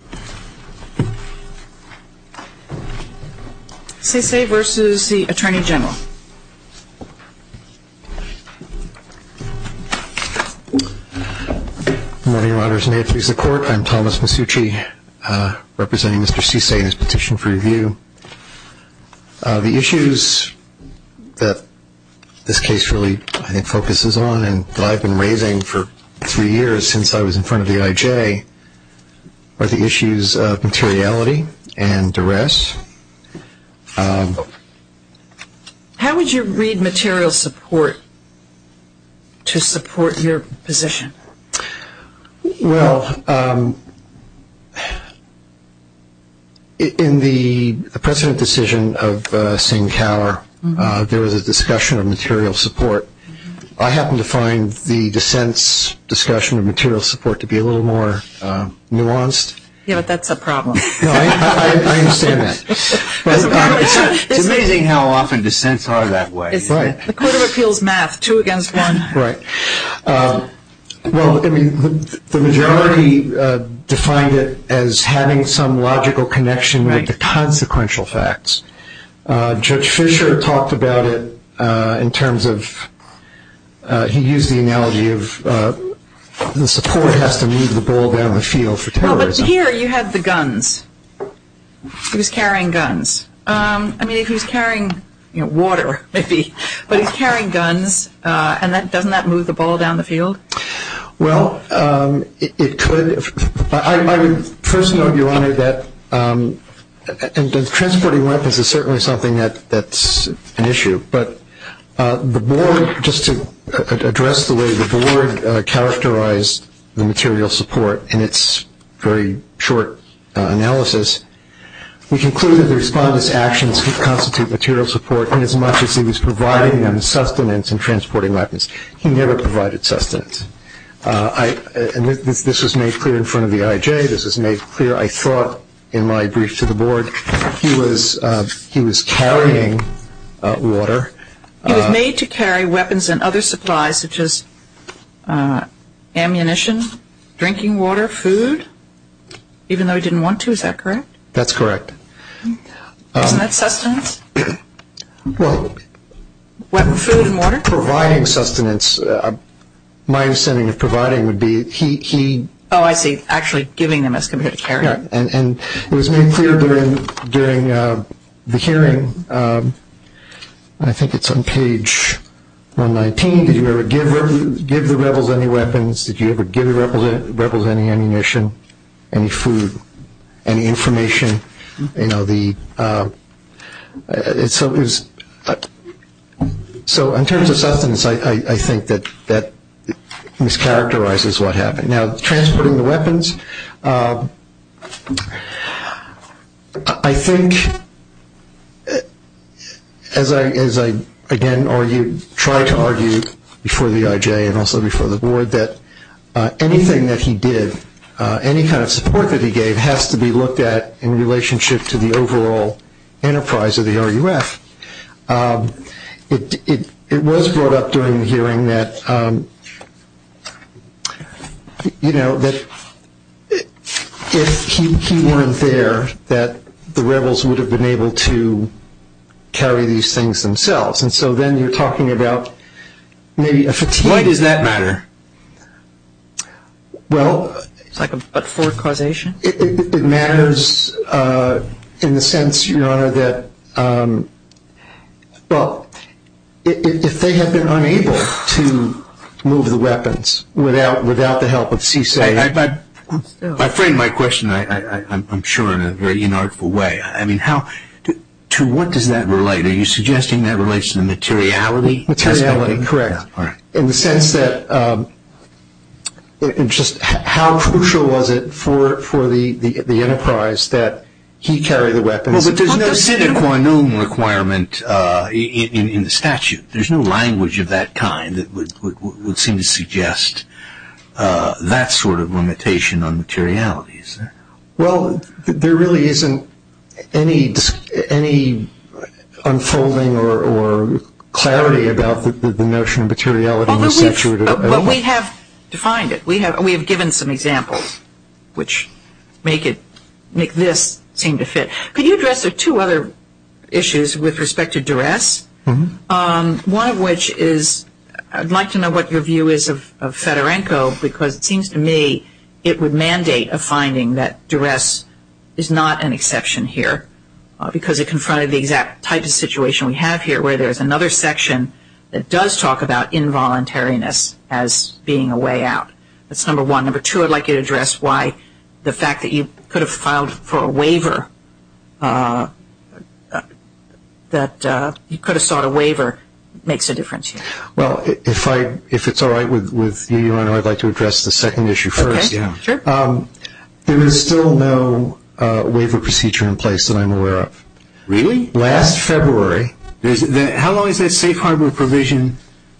Good morning. I'm Thomas Masucci representing Mr. Sesay in this petition for review. The issues that this case really focuses on and that I've been raising for three years since I was in front of the IJ are the issues of materiality and duress. How would you read material support to support your position? Well, in the President's decision of Singh Kaur there was a discussion of material support. I happened to find the dissent's discussion of material support to be a little more nuanced. Yeah, but that's a problem. No, I understand that. It's amazing how often dissents are that way. The Court of Appeals math, two against one. Right. Well, the majority defined it as having some logical connection with the support has to move the ball down the field for terrorism. No, but here you had the guns. He was carrying guns. I mean, he was carrying water, maybe, but he's carrying guns and doesn't that move the ball down the field? Well, it could. I would first note, Your Honor, that transporting weapons is certainly something that's an issue, but the board, just to address the way the board characterized the material support in its very short analysis, we concluded the Respondent's actions constitute material support inasmuch as he was providing them sustenance in transporting weapons. He never provided sustenance. This was made clear in front of the IJ. This was made clear, I thought, in my brief to the board. He was carrying water. He was made to carry weapons and other supplies, such as ammunition, drinking water, food, even though he didn't want to. Is that correct? That's correct. Isn't that sustenance? Well, providing sustenance, my understanding of providing would be he... Oh, I see. Actually giving them as compared to carrying. And it was made clear during the hearing, I think it's on page 119, did you ever give the rebels any weapons? Did you ever give the rebels any ammunition, any food, any information? So in terms of sustenance, I think that mischaracterizes what happened. Now, transporting the weapons, I think, as I again argued, tried to argue before the IJ and also before the board that anything that he did, any kind of support that he gave has to be looked at in relationship to the overall enterprise of the RUF. It was brought up during the hearing that, you know, that if he weren't there, that the rebels would have been able to carry these things themselves. And so then you're talking about maybe a fatigue... Why does that matter? Well... It's like a but-for causation? It matters in the sense, your honor, that if they had been unable to move the weapons without the help of CSA... I frame my question, I'm sure, in a very inartful way. I mean, to what does that relate? Are you suggesting that relates to materiality? Materiality, correct. In the sense that he carried the weapons... Well, but there's no sine qua non requirement in the statute. There's no language of that kind that would seem to suggest that sort of limitation on materiality, is there? Well, there really isn't any unfolding or clarity about the notion of materiality in the statute at all. Well, we have defined it. We have given some examples which make it... make this seem to fit. Could you address the two other issues with respect to duress? One of which is... I'd like to know what your view is of Fedorenko because it seems to me it would mandate a finding that duress is not an exception here because it confronted the exact type of situation we have here where there is another section that does talk about involuntariness as being a way out. That's number one. Number two, I'd like you to address why the fact that you could have filed for a waiver, that you could have sought a waiver, makes a difference here. Well, if it's all right with you, Your Honor, I'd like to address the second issue first. Okay, sure. There is still no waiver procedure in place that I'm aware of. Really? Last February. How long is that safe harbor provision?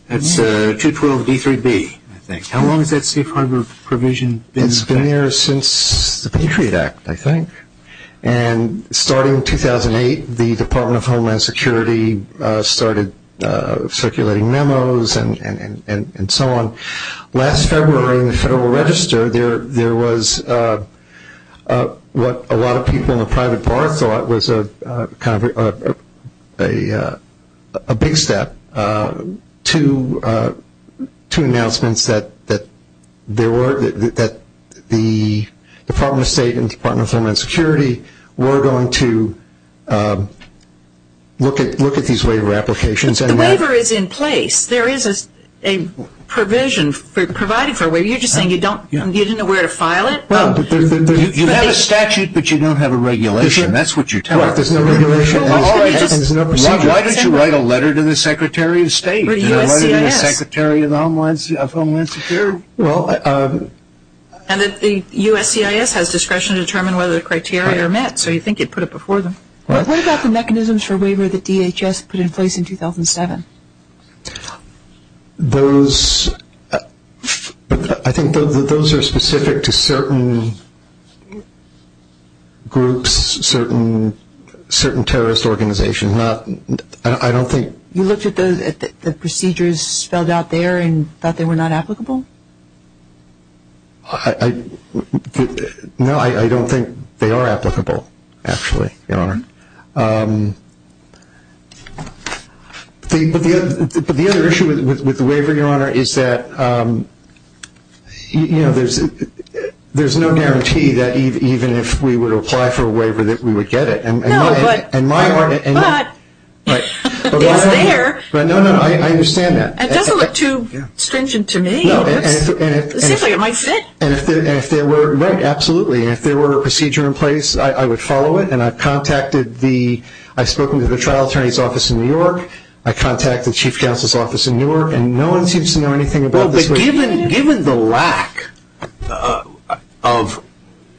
That's 212b3b, I think. How long has that safe harbor provision been there? It's been there since the Patriot Act, I think. And starting in 2008, the Department of Homeland Security started circulating memos and so on. Last February in the Federal Register, there was what a lot of people in the private bar thought was a big step to announcements that the Department of State and the Department of Homeland Security were going to look at these waiver applications. But the waiver is in place. There is a provision provided for a waiver. You're just saying you don't know where to file it? Well, you have a statute, but you don't have a regulation. That's what you tell us. Why don't you write a letter to the Secretary of State, to the Secretary of Homeland Security? And the USCIS has discretion to determine whether the criteria are met, so you think it put it before them. What about the mechanisms for waiver that DHS put in place in 2007? Those, I think those are specific to certain groups, certain terrorist organizations. I don't think. You looked at the procedures spelled out there and thought they were not applicable? No, I don't think they are applicable, actually, Your Honor. But the other issue with the waiver, Your Honor, is that there's no guarantee that even if we were to apply for a waiver, that we would get it. No, but it's there. No, no, I understand that. It doesn't look too stringent to me. It seems like it might fit. Right, absolutely. If there were a procedure in place, I would follow it, and I've contacted the, I've spoken to the trial attorney's office in New York, I've contacted the Chief Counsel's office in New York, and no one seems to know anything about this. Given the lack of,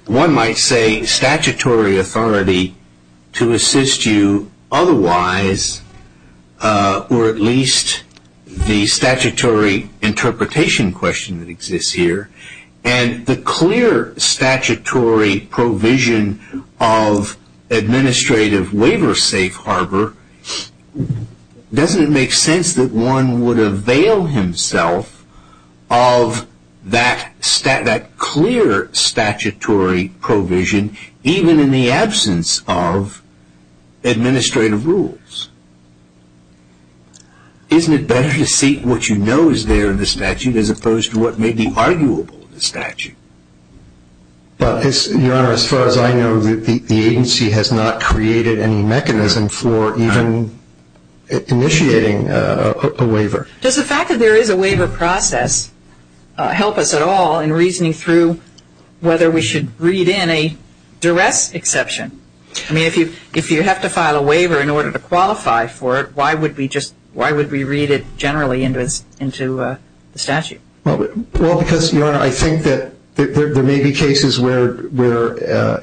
one might say, statutory authority to assist you otherwise, or at least the statutory interpretation question that exists here, and the clear statutory provision of administrative waiver safe harbor, doesn't it make sense that one would avail himself of that clear statutory provision, even in the absence of administrative rules? Isn't it better to seek what you know is there in the statute as opposed to what may be arguable in the statute? Well, Your Honor, as far as I know, the agency has not created any mechanism for even initiating a waiver. Does the fact that there is a waiver process help us at all in reasoning through whether we should read in a duress exception? I mean, if you have to file a waiver in order to qualify for it, why would we just, why would we read it generally into the statute? Well, because, Your Honor, I think that there may be cases where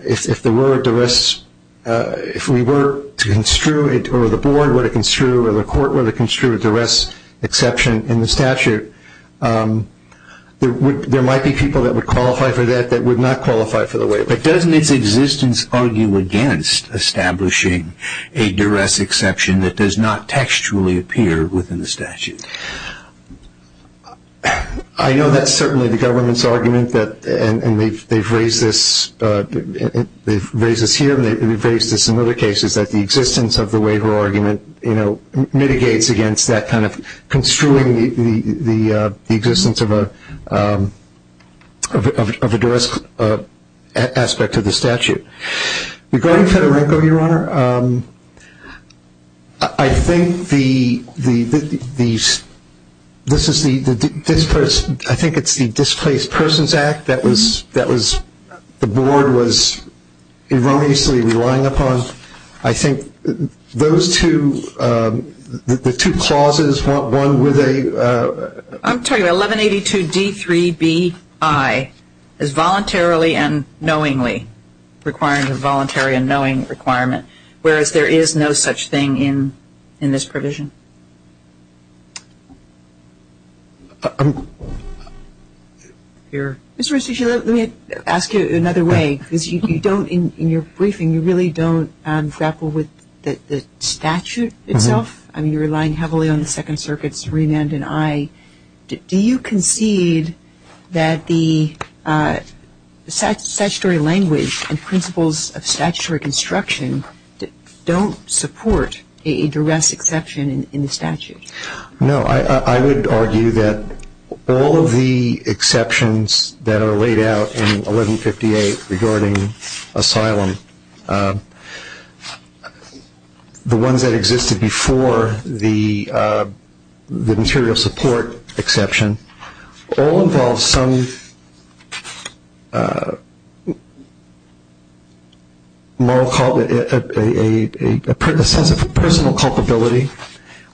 if there were a duress, if we were to construe it, or the board were to construe it, or the court were to construe a duress exception in the statute, there might be people that would qualify for that that would not qualify for the waiver. But doesn't its existence argue against establishing a duress exception that does not textually appear within the statute? I know that's certainly the government's argument, and they've raised this here and they've raised this in other cases, that the existence of the waiver argument, you know, mitigates against that kind of construing the existence of a duress aspect of the statute. Regarding Fedorenko, Your Honor, I think the, this is the, I think it's the Displaced Persons Act that was, that was, the board was erroneously relying upon. I think those two, the two clauses, one with a, I'm telling you, 1182 D3BI is voluntarily and knowingly requiring a voluntary and knowing requirement, whereas there is no such thing in this provision. Mr. Restici, let me ask you another way, because you don't, in your briefing, you really don't grapple with the statute itself. I mean, you're relying heavily on the Second Circuit's remand, and I, do you concede that the statutory language and principles of statutory construction don't support a duress exception in the statute? No. I would argue that all of the exceptions that are laid out in 1158 regarding asylum, the ones that existed before the material support exception, all involve some moral, a sense of personal culpability.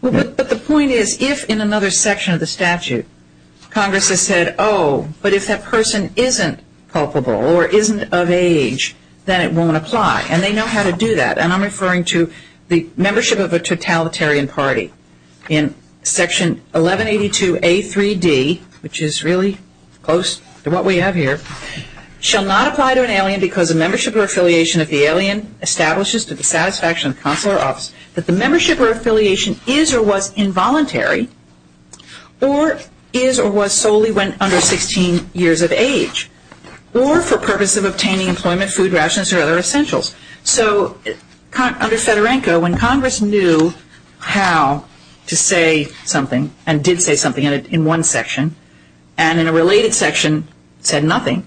But the point is, if in another section of the statute Congress has said, oh, but if that person isn't culpable or isn't of age, then it won't apply, and they know how to do that. And I'm referring to the membership of a totalitarian party in Section 1182 A3D, which is really close to what we have here, shall not apply to an alien because of membership or affiliation of the alien establishes to the satisfaction of consular office that the membership or affiliation is or was involuntary or is or was solely when under 16 years of age or for purpose of obtaining employment, food, rations, or other essentials. So under Fedorenko, when Congress knew how to say something and did say something in one section, and in a related section said nothing,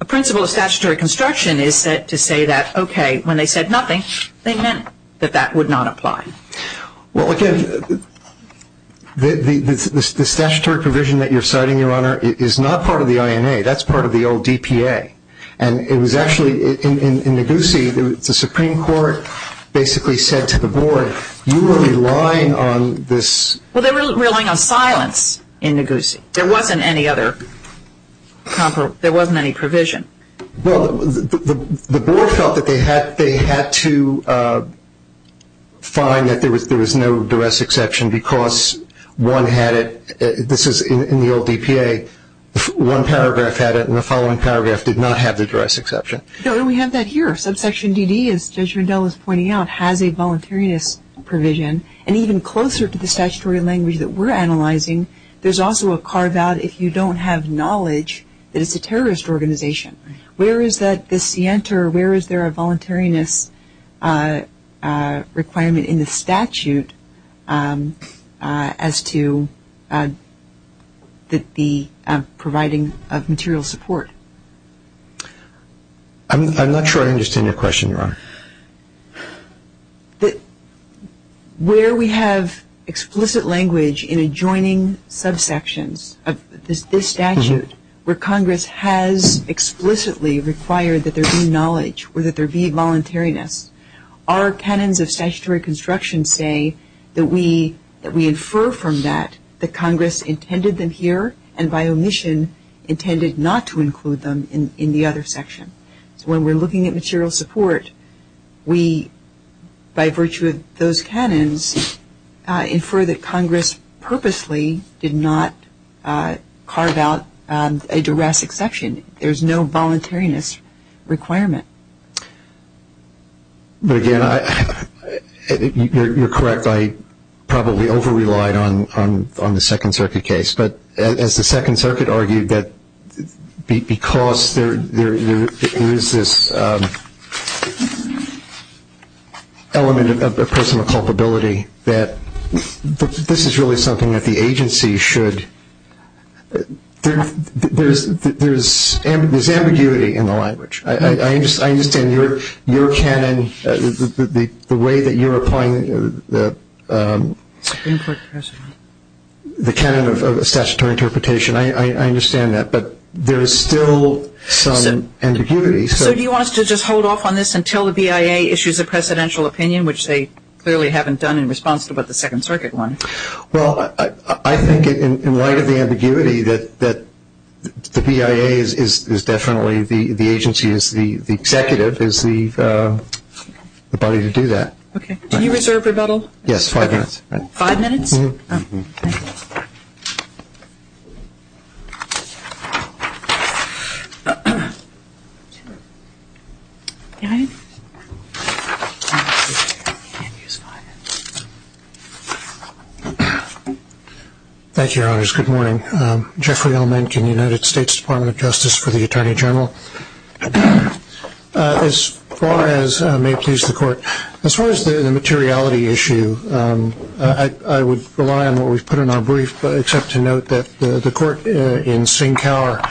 a principle of statutory construction is to say that, OK, when they said nothing, they meant that that would not apply. Well, again, the statutory provision that you're citing, Your Honor, is not part of the INA. That's part of the old DPA. And it was actually, in Neguse, the Supreme Court basically said to the board, you are relying on this. Well, they were relying on silence in Neguse. There wasn't any other, there wasn't any provision. Well, the board felt that they had to find that there was no duress exception because one had it, this is in the old DPA, one paragraph had it and the following paragraph did not have the duress exception. No, and we have that here. Subsection DD, as Judge Rendell is pointing out, has a voluntariness provision. And even closer to the statutory language that we're analyzing, there's also a carve terrorist organization. Where is that, the scienter, where is there a voluntariness requirement in the statute as to the providing of material support? I'm not sure I understand your question, Your Honor. Where we have explicit language in adjoining subsections of this statute where Congress has explicitly required that there be knowledge or that there be voluntariness, our canons of statutory construction say that we infer from that that Congress intended them here and by omission intended not to include them in the other section. When we're looking at material support, we, by virtue of those canons, infer that Congress purposely did not carve out a duress exception. There's no voluntariness requirement. But again, you're correct, I probably over relied on the Second Circuit case, but as there is this element of personal culpability that this is really something that the agency should, there's ambiguity in the language. I understand your canon, the way that you're applying the canon of statutory interpretation, I understand that, but there is still some ambiguity. So do you want us to just hold off on this until the BIA issues a presidential opinion, which they clearly haven't done in response to the Second Circuit one? Well, I think in light of the ambiguity that the BIA is definitely, the agency is, the executive is the body to do that. Okay. Do you reserve rebuttal? Yes, five minutes. Five minutes? Okay. Thank you, Your Honors. Good morning. Jeffrey Elmenken, United States Department of Justice for the Attorney General. As far as, may it please the court, as far as the materiality issue, I would rely on what we've put in our brief, except to note that the court in Sinkower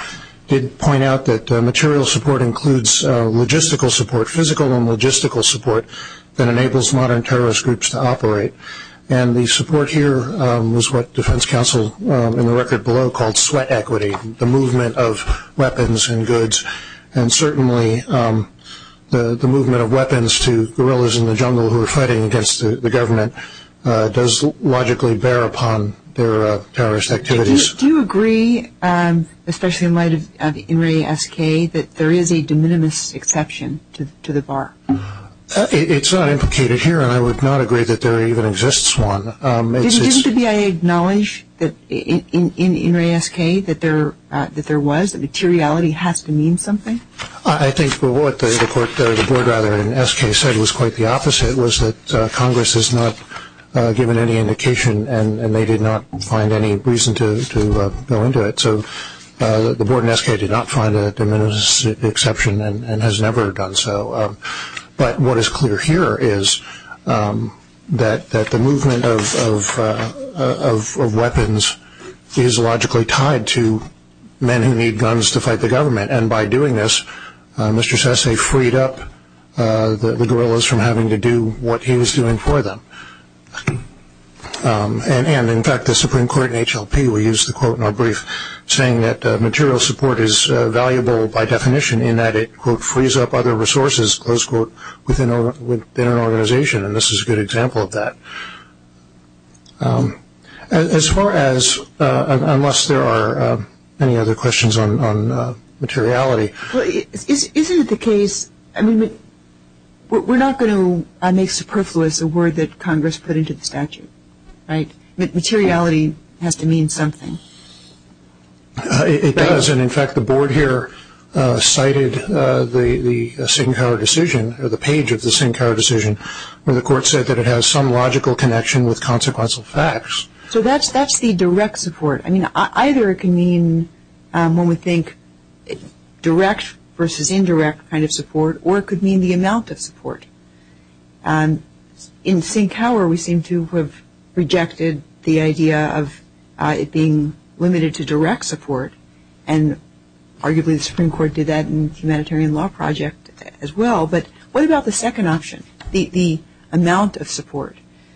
did point out that material support includes logistical support, physical and logistical support that enables modern terrorist groups to operate. And the support here was what defense counsel in the record below called sweat equity, the movement of weapons and goods, and certainly the movement of weapons to guerrillas in the jungle who are fighting against the government does logically bear upon their terrorist activities. Do you agree, especially in light of the NRASK, that there is a de minimis exception to the bar? It's not implicated here, and I would not agree that there even exists one. Didn't the BIA acknowledge in NRASK that there was, that materiality has to mean something? I think what the court, the board rather, in SK said was quite the opposite, was that Congress has not given any indication and they did not find any reason to go into it. So the board in SK did not find a de minimis exception and has never done so. But what is clear here is that the movement of weapons is logically tied to men who need guns to fight the government, and by doing this, Mr. Sesay freed up the guerrillas from having to do what he was doing for them. And in fact, the Supreme Court in HLP, we used the quote in our brief, saying that material support is valuable by definition in that it, quote, frees up other resources, close quote, within an organization. And this is a good example of that. As far as, unless there are any other questions on materiality. Isn't it the case, I mean, we're not going to make superfluous a word that Congress put into the statute, right? Materiality has to mean something. It does, and in fact, the board here cited the Sinkhour decision, or the page of the Sinkhour decision, where the court said that it has some logical connection with consequential facts. So that's the direct support. I mean, either it can mean, when we think direct versus indirect kind of support, or it could mean the amount of support. In Sinkhour, we seem to have rejected the idea of it being limited to direct support, and arguably the Supreme Court did that in the Humanitarian Law Project as well. But what about the second option, the amount of support?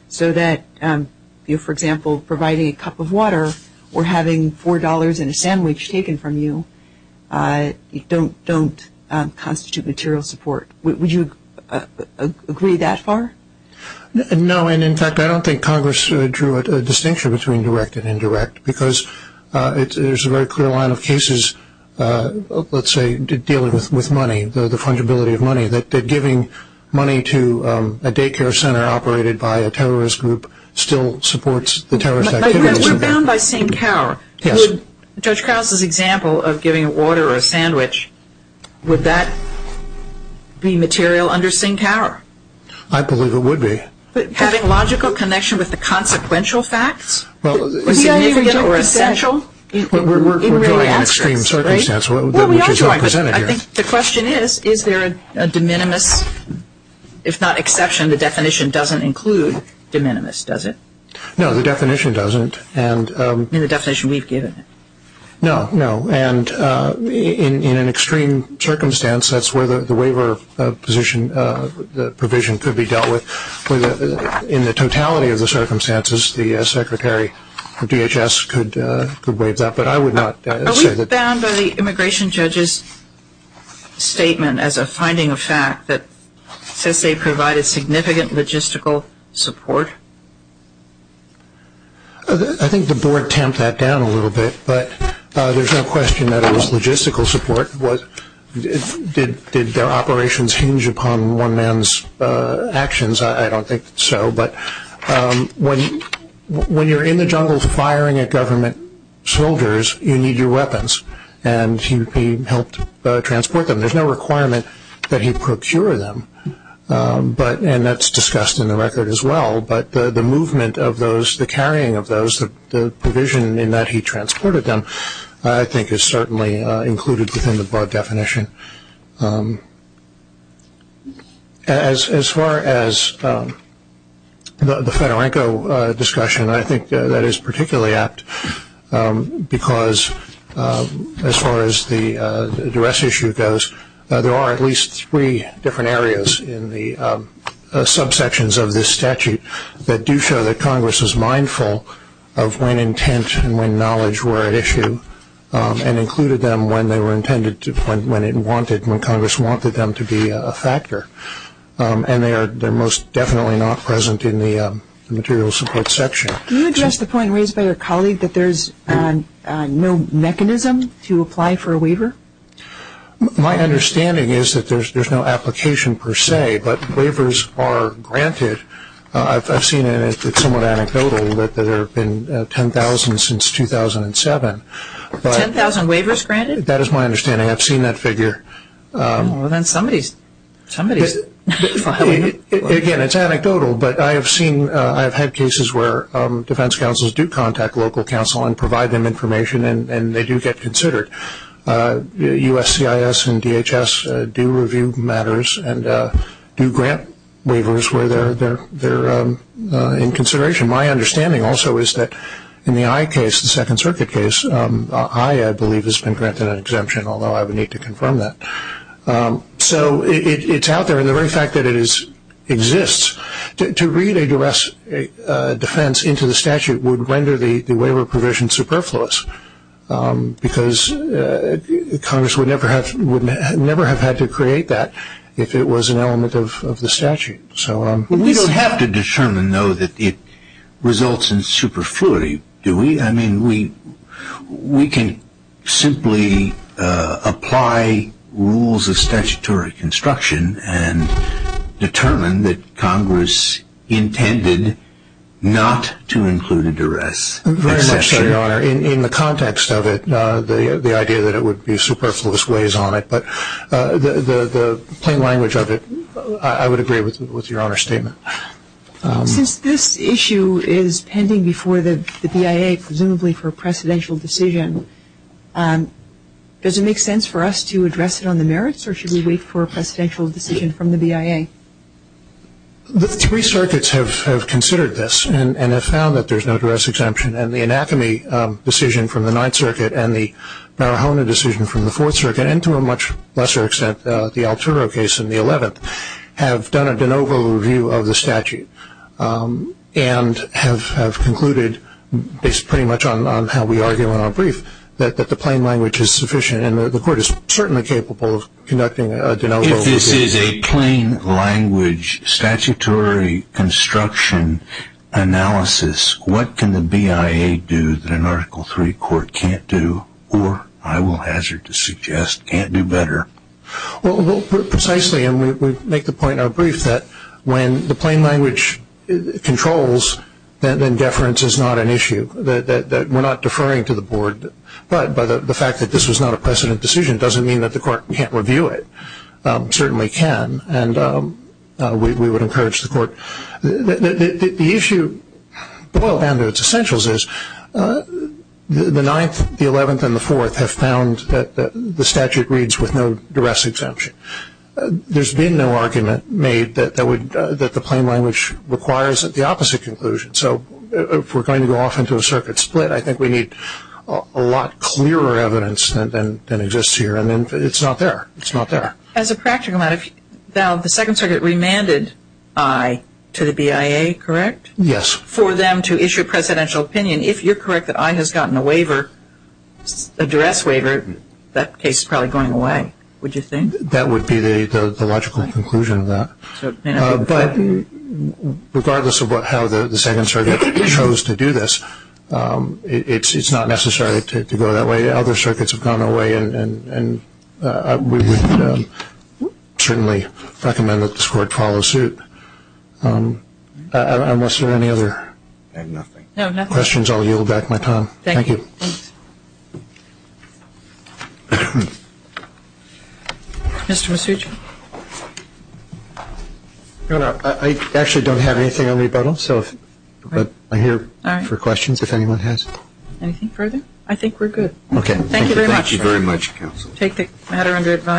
So that, for example, providing a cup of water or having $4 and a sandwich taken from you don't constitute material support. Would you agree that far? No, and in fact, I don't think Congress drew a distinction between direct and indirect, because there's a very clear line of cases, let's say dealing with money, the fungibility of money, that giving money to a daycare center operated by a terrorist group still supports the terrorist activity. We're bound by Sinkhour. Yes. In Judge Krause's example of giving water or a sandwich, would that be material under Sinkhour? I believe it would be. Having logical connection with the consequential facts? Significant or essential? We're drawing an extreme circumstance, which is represented here. Well, we are drawing, but I think the question is, is there a de minimis, if not exception, the definition doesn't include de minimis, does it? No, the definition doesn't. In the definition we've given? No, no, and in an extreme circumstance, that's where the waiver provision could be dealt with. In the totality of the circumstances, the secretary of DHS could waive that, but I would not say that. Are we bound by the immigration judge's statement as a finding of fact that says they provided significant logistical support? I think the board tamped that down a little bit, but there's no question that it was logistical support. Did their operations hinge upon one man's actions? I don't think so, but when you're in the jungle firing at government soldiers, you need your weapons, and he helped transport them. There's no requirement that he procure them, and that's discussed in the record as well, but the movement of those, the carrying of those, the provision in that he transported them, I think is certainly included within the board definition. As far as the Fedorenko discussion, I think that is particularly apt because as far as the duress issue goes, there are at least three different areas in the subsections of this statute that do show that Congress is mindful of when intent and when knowledge were at issue and included them when they were intended to, when it wanted, when Congress wanted them to be a factor, and they're most definitely not present in the material support section. Can you address the point raised by your colleague that there's no mechanism to apply for a waiver? My understanding is that there's no application per se, but waivers are granted. I've seen, and it's somewhat anecdotal, that there have been 10,000 since 2007. 10,000 waivers granted? That is my understanding. I've seen that figure. Well, then somebody's filing it. Again, it's anecdotal, but I have seen, I have had cases where defense counsels do contact local counsel and provide them information, and they do get considered. USCIS and DHS do review matters and do grant waivers where they're in consideration. My understanding also is that in the Eye case, the Second Circuit case, Eye, I believe, has been granted an exemption, although I would need to confirm that. So it's out there, and the very fact that it exists, to read a defense into the statute would render the waiver provision superfluous because Congress would never have had to create that if it was an element of the statute. We don't have to determine, though, that it results in superfluity, do we? I mean, we can simply apply rules of statutory construction and determine that Congress intended not to include a duress exception. Very much so, Your Honor. In the context of it, the idea that it would be superfluous weighs on it, but the plain language of it, I would agree with Your Honor's statement. Since this issue is pending before the BIA, presumably for a precedential decision, does it make sense for us to address it on the merits, or should we wait for a precedential decision from the BIA? The three circuits have considered this and have found that there's no duress exemption, and the Anacomy decision from the Ninth Circuit and the Marihona decision from the Fourth Circuit, and to a much lesser extent the Alturo case in the Eleventh, have done a de novo review of the statute and have concluded, based pretty much on how we argue in our brief, that the plain language is sufficient, and the Court is certainly capable of conducting a de novo review. If this is a plain language statutory construction analysis, what can the BIA do that an Article III court can't do, or, I will hazard to suggest, can't do better? Well, precisely, and we make the point in our brief, that when the plain language controls, then deference is not an issue. We're not deferring to the Board, but the fact that this was not a precedent decision doesn't mean that the Court can't review it. It certainly can, and we would encourage the Court. The issue, and its essentials, is the Ninth, the Eleventh, and the Fourth have found that the statute reads with no duress exemption. There's been no argument made that the plain language requires the opposite conclusion. So if we're going to go off into a circuit split, I think we need a lot clearer evidence than exists here, and it's not there. It's not there. As a practical matter, Val, the Second Circuit remanded I to the BIA, correct? Yes. For them to issue a presidential opinion, if you're correct that I has gotten a waiver, a duress waiver, that case is probably going away, would you think? That would be the logical conclusion of that. But regardless of how the Second Circuit chose to do this, it's not necessary to go that way. Other circuits have gone away, and we would certainly recommend that this Court follow suit. Unless there are any other questions, I'll yield back my time. Thank you. Thank you. Mr. Masucci. No, no, I actually don't have anything on rebuttal, but I'm here for questions if anyone has. Anything further? I think we're good. Okay. Thank you very much. Thank you very much, counsel. Take the matter under advice.